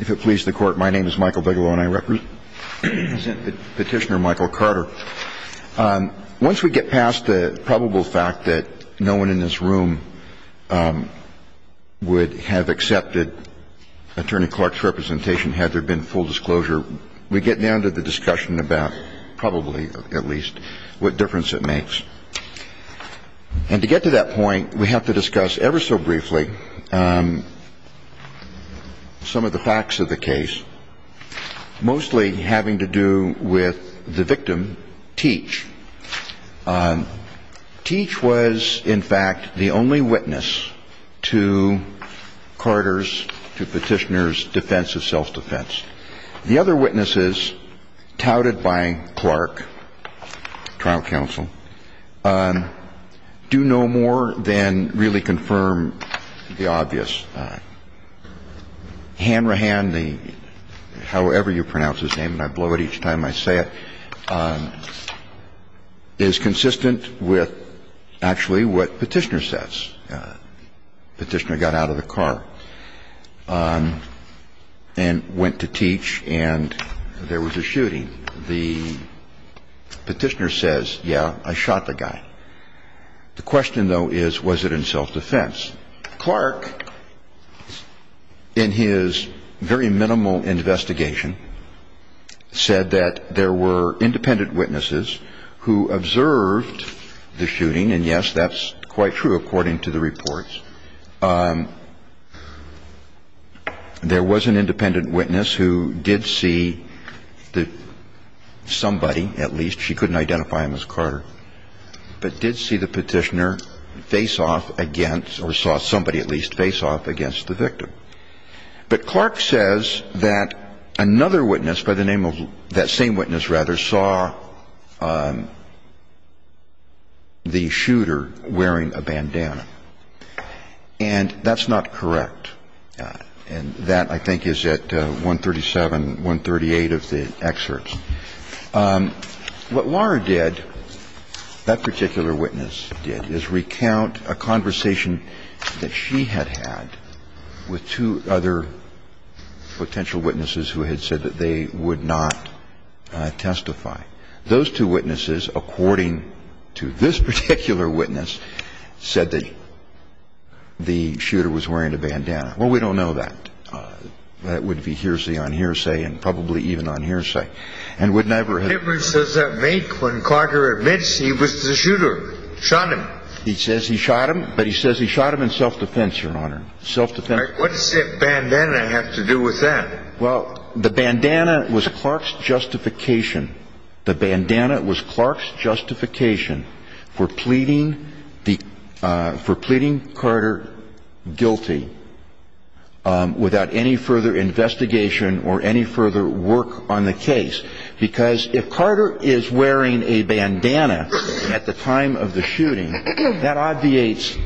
If it pleases the Court, my name is Michael Bigelow, and I represent Petitioner Michael Carter. Once we get past the probable fact that no one in this room would have accepted Attorney Clark's representation had there been full disclosure, we get down to the discussion about, probably at least, what difference it makes. And to get to that point, we have to discuss, ever so briefly, some of the facts of the case, mostly having to do with the victim, Teach. Teach was, in fact, the only witness to Carter's, to Petitioner's defense of self-defense. The other witnesses, touted by Clark, trial counsel, do no more than really confirm the obvious. Hanrahan, however you pronounce his name, and I blow it each time I say it, is consistent with actually what Petitioner says. Petitioner got out of the car and went to Teach, and there was a shooting. The Petitioner says, yeah, I shot the guy. The question, though, is, was it in self-defense? Clark, in his very minimal investigation, said that there were independent witnesses who observed the shooting, and yes, that's quite true according to the reports. There was an independent witness who did see that somebody, at least, she couldn't identify him as Carter, but did see the Petitioner face off against, or saw somebody at least face off against the victim. But Clark says that another witness, by the name of that same witness, rather, saw the shooter wearing a bandana. And that's not correct. And that, I think, is at 137, 138 of the excerpts. What Laura did, that particular witness did, is recount a conversation that she had had with two other potential witnesses who had said that they would not testify. Those two witnesses, according to this particular witness, said that the shooter was wearing a bandana. Well, we don't know that. That would be hearsay on hearsay and probably even on hearsay. What difference does that make when Carter admits he was the shooter, shot him? He says he shot him, but he says he shot him in self-defense, Your Honor. What does the bandana have to do with that? Well, the bandana was Clark's justification. The bandana was Clark's justification for pleading Carter guilty without any further investigation or any further work on the case. Because if Carter is wearing a bandana at the time of the shooting, that obviates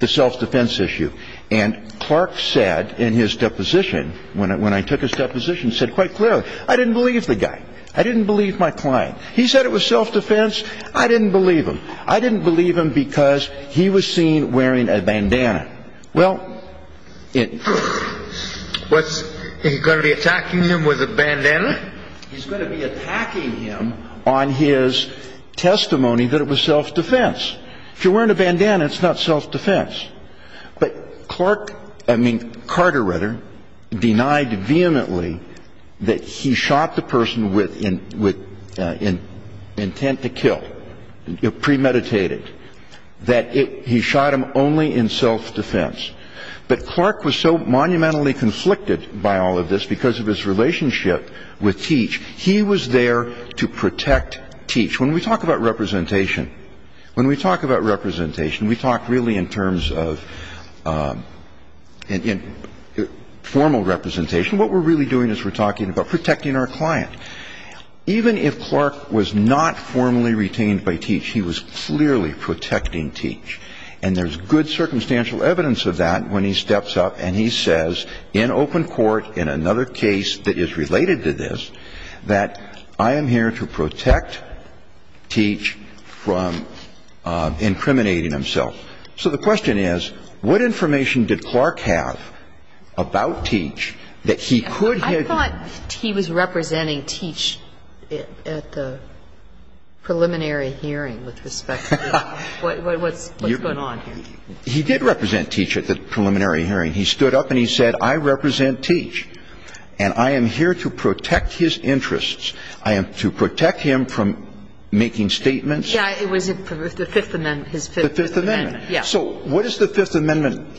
the self-defense issue. And Clark said in his deposition, when I took his deposition, said quite clearly, I didn't believe the guy. I didn't believe my client. He said it was self-defense. I didn't believe him. I didn't believe him because he was seen wearing a bandana. Well, is he going to be attacking him with a bandana? He's going to be attacking him on his testimony that it was self-defense. If you're wearing a bandana, it's not self-defense. But Clark, I mean Carter rather, denied vehemently that he shot the person with intent to kill, premeditated, that he shot him only in self-defense. But Clark was so monumentally conflicted by all of this because of his relationship with Teach, he was there to protect Teach. When we talk about representation, when we talk about representation, we talk really in terms of formal representation. What we're really doing is we're talking about protecting our client. Even if Clark was not formally retained by Teach, he was clearly protecting Teach. And there's good circumstantial evidence of that when he steps up and he says in open court, in another case that is related to this, that I am here to protect Teach from incriminating himself. So the question is, what information did Clark have about Teach that he could have been? I thought he was representing Teach at the preliminary hearing with respect to what's going on here. He did represent Teach at the preliminary hearing. He stood up and he said, I represent Teach, and I am here to protect his interests. I am to protect him from making statements. Yeah, it was the Fifth Amendment, his Fifth Amendment. The Fifth Amendment. Yeah. So what is the Fifth Amendment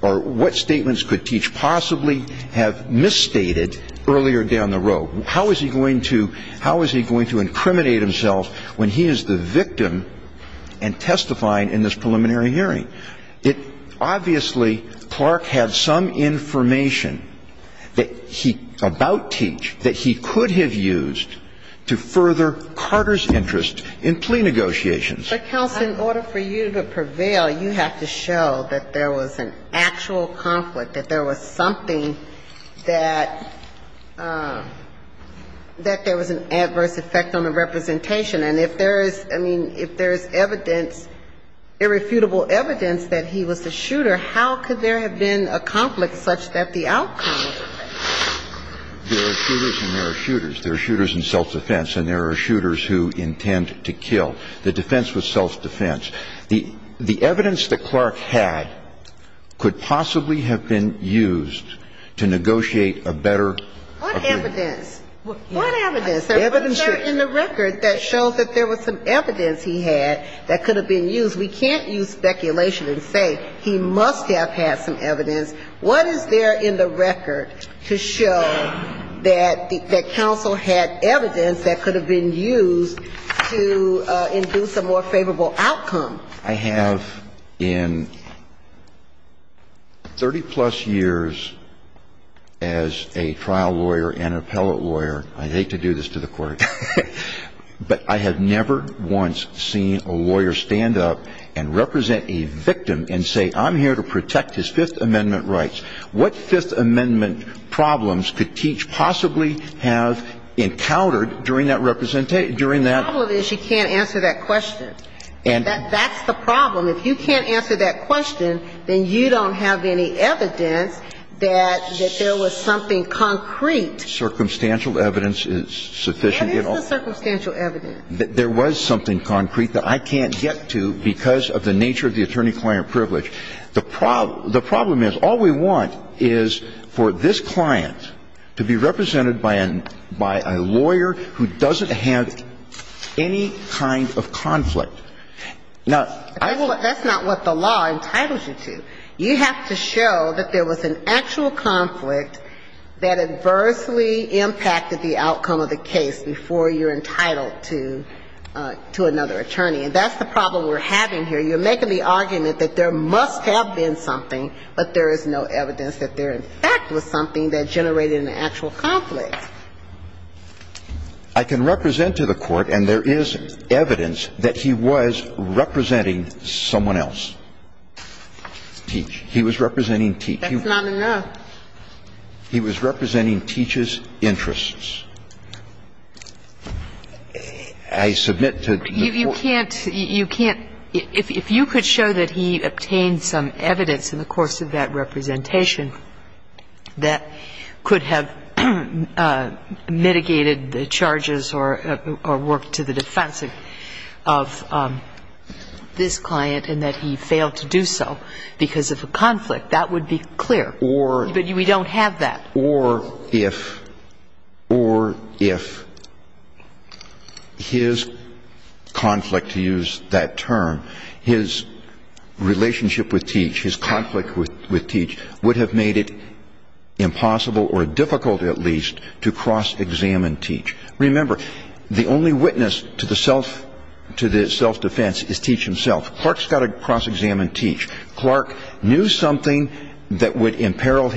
or what statements could Teach possibly have misstated earlier down the road? How is he going to incriminate himself when he is the victim and testifying in this preliminary hearing? Obviously, Clark had some information about Teach that he could have used to further Carter's interest in plea negotiations. But, counsel, in order for you to prevail, you have to show that there was an actual conflict, that there was something that there was an adverse effect on the representation. And if there is, I mean, if there is evidence, irrefutable evidence that he was the shooter, how could there have been a conflict such that the outcome of the defense? There are shooters and there are shooters. There are shooters in self-defense and there are shooters who intend to kill. The defense was self-defense. The evidence that Clark had could possibly have been used to negotiate a better opinion. What evidence? What evidence? What is there in the record that shows that there was some evidence he had that could have been used? We can't use speculation and say he must have had some evidence. What is there in the record to show that counsel had evidence that could have been used to induce a more favorable outcome? I have in 30-plus years as a trial lawyer and an appellate lawyer, I hate to do this to the Court, but I have never once seen a lawyer stand up and represent a victim and say I'm here to protect his Fifth Amendment rights. What Fifth Amendment problems could Teach possibly have encountered during that representation during that? The problem is you can't answer that question. That's the problem. If you can't answer that question, then you don't have any evidence that there was something concrete. Circumstantial evidence is sufficient. What is the circumstantial evidence? There was something concrete that I can't get to because of the nature of the attorney-client privilege. The problem is all we want is for this client to be represented by a lawyer who doesn't have any kind of conflict. Now, I will ---- That's not what the law entitles you to. You have to show that there was an actual conflict that adversely impacted the outcome of the case before you're entitled to another attorney. And that's the problem we're having here. You're making the argument that there must have been something, but there is no evidence that there in fact was something that generated an actual conflict. I can represent to the Court, and there is evidence that he was representing someone else. Teach. He was representing Teach. That's not enough. He was representing Teach's interests. I submit to the Court ---- You can't, you can't, if you could show that he obtained some evidence in the course of that representation that could have mitigated the charges or worked to the defense of this client and that he failed to do so because of a conflict, that would be clear. But we don't have that. Or if, or if his conflict, to use that term, his relationship with Teach, his conflict with Teach would have made it impossible or difficult at least to cross-examine Teach. Remember, the only witness to the self-defense is Teach himself. Clark's got to cross-examine Teach. Clark knew something that would imperil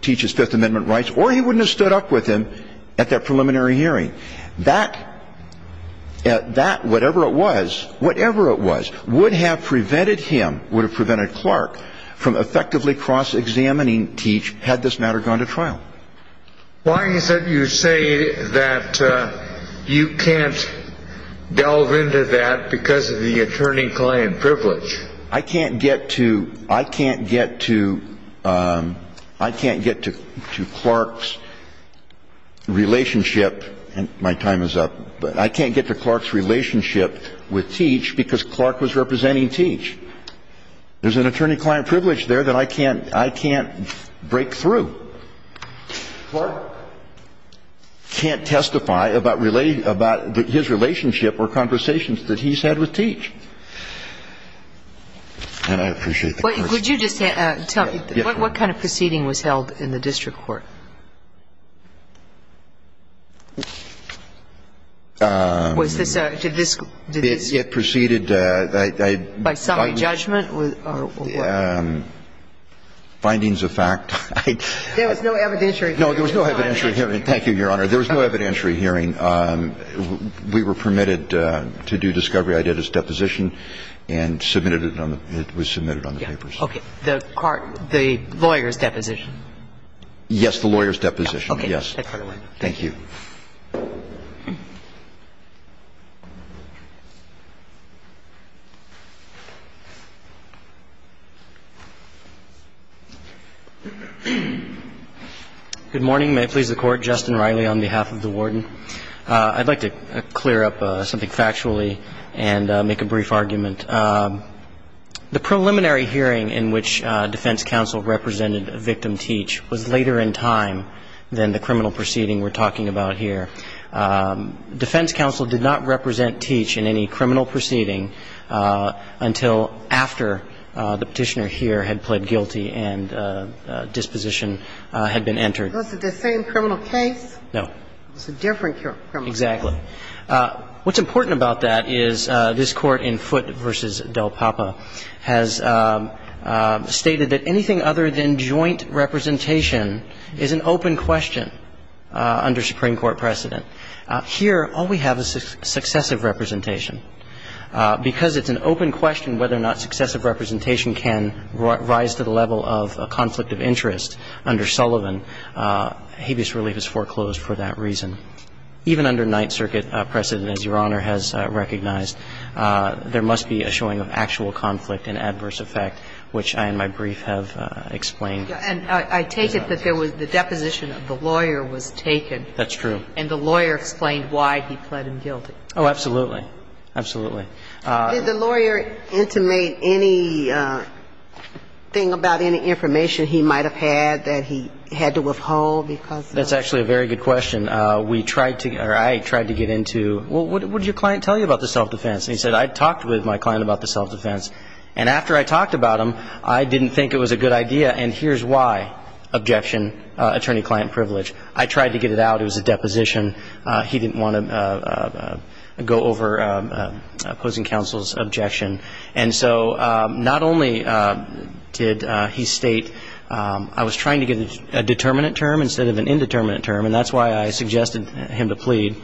Teach's Fifth Amendment rights, or he wouldn't have stood up with him at that preliminary hearing. That, that, whatever it was, whatever it was, would have prevented him, would have prevented Clark from effectively cross-examining Teach had this matter gone to trial. Why is it you say that you can't delve into that because of the attorney-client privilege? I can't get to, I can't get to, I can't get to Clark's relationship, and my time is up. But I can't get to Clark's relationship with Teach because Clark was representing Teach. There's an attorney-client privilege there that I can't, I can't break through. Clark can't testify about his relationship or conversations that he's had with Teach. And I appreciate the question. Could you just tell me, what kind of proceeding was held in the district court? Was this a, did this proceed by summary judgment or what? Findings of fact. There was no evidentiary hearing. No, there was no evidentiary hearing. Thank you, Your Honor. There was no evidentiary hearing. We were permitted to do discovery. And that's what I'm going to say to you. That's the way I did his deposition, and submitted it on the – it was submitted on the papers. Okay. The court, the lawyer's deposition. Yes, the lawyer's deposition, yes. Okay. Thank you. Thank you. Good morning. May it please the Court. Justin Riley on behalf of the warden. I'd like to clear up something factually and make a brief argument. The preliminary hearing in which defense counsel represented victim Teach was later in time than the criminal proceeding we're talking about here. Defense counsel did not represent Teach in any criminal proceeding until after the Petitioner here had pled guilty and disposition had been entered. Was it the same criminal case? No. It was a different criminal case. Exactly. What's important about that is this Court in Foote v. Del Papa has stated that anything other than joint representation is an open question under Supreme Court precedent. Here, all we have is successive representation. Because it's an open question whether or not successive representation can rise to the level of a conflict of interest under Sullivan, habeas relief is foreclosed for that reason. Even under Ninth Circuit precedent, as Your Honor has recognized, there must be a showing of actual conflict and adverse effect, which I in my brief have explained. And I take it that there was the deposition of the lawyer was taken. That's true. And the lawyer explained why he pled him guilty. Oh, absolutely. Absolutely. Did the lawyer intimate anything about any information he might have had that he had to withhold because of that? That's actually a very good question. We tried to or I tried to get into, well, what did your client tell you about the self-defense? And he said, I talked with my client about the self-defense. And after I talked about him, I didn't think it was a good idea. And here's why. Objection. Attorney-client privilege. I tried to get it out. It was a deposition. He didn't want to go over opposing counsel's objection. And so not only did he state I was trying to get a determinate term instead of an indeterminate term. And that's why I suggested him to plead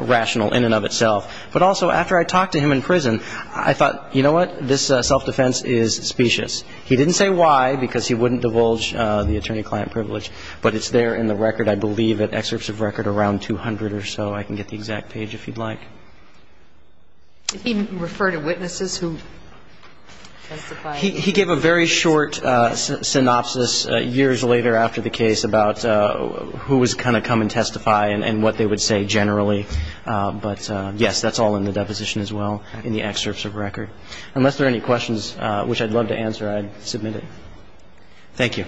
rational in and of itself. But also after I talked to him in prison, I thought, you know what? This self-defense is specious. He didn't say why because he wouldn't divulge the attorney-client privilege. But it's there in the record. I believe at excerpts of record around 200 or so. I can get the exact page if you'd like. Did he refer to witnesses who testified? He gave a very short synopsis years later after the case about who was going to come and testify and what they would say generally. But, yes, that's all in the deposition as well in the excerpts of record. Unless there are any questions which I'd love to answer, I'd submit it. Thank you.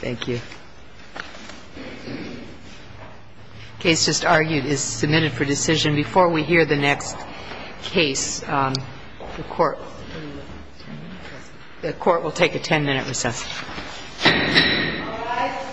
Thank you. The case just argued is submitted for decision. Before we hear the next case, the Court will take a 10-minute recess. All rise.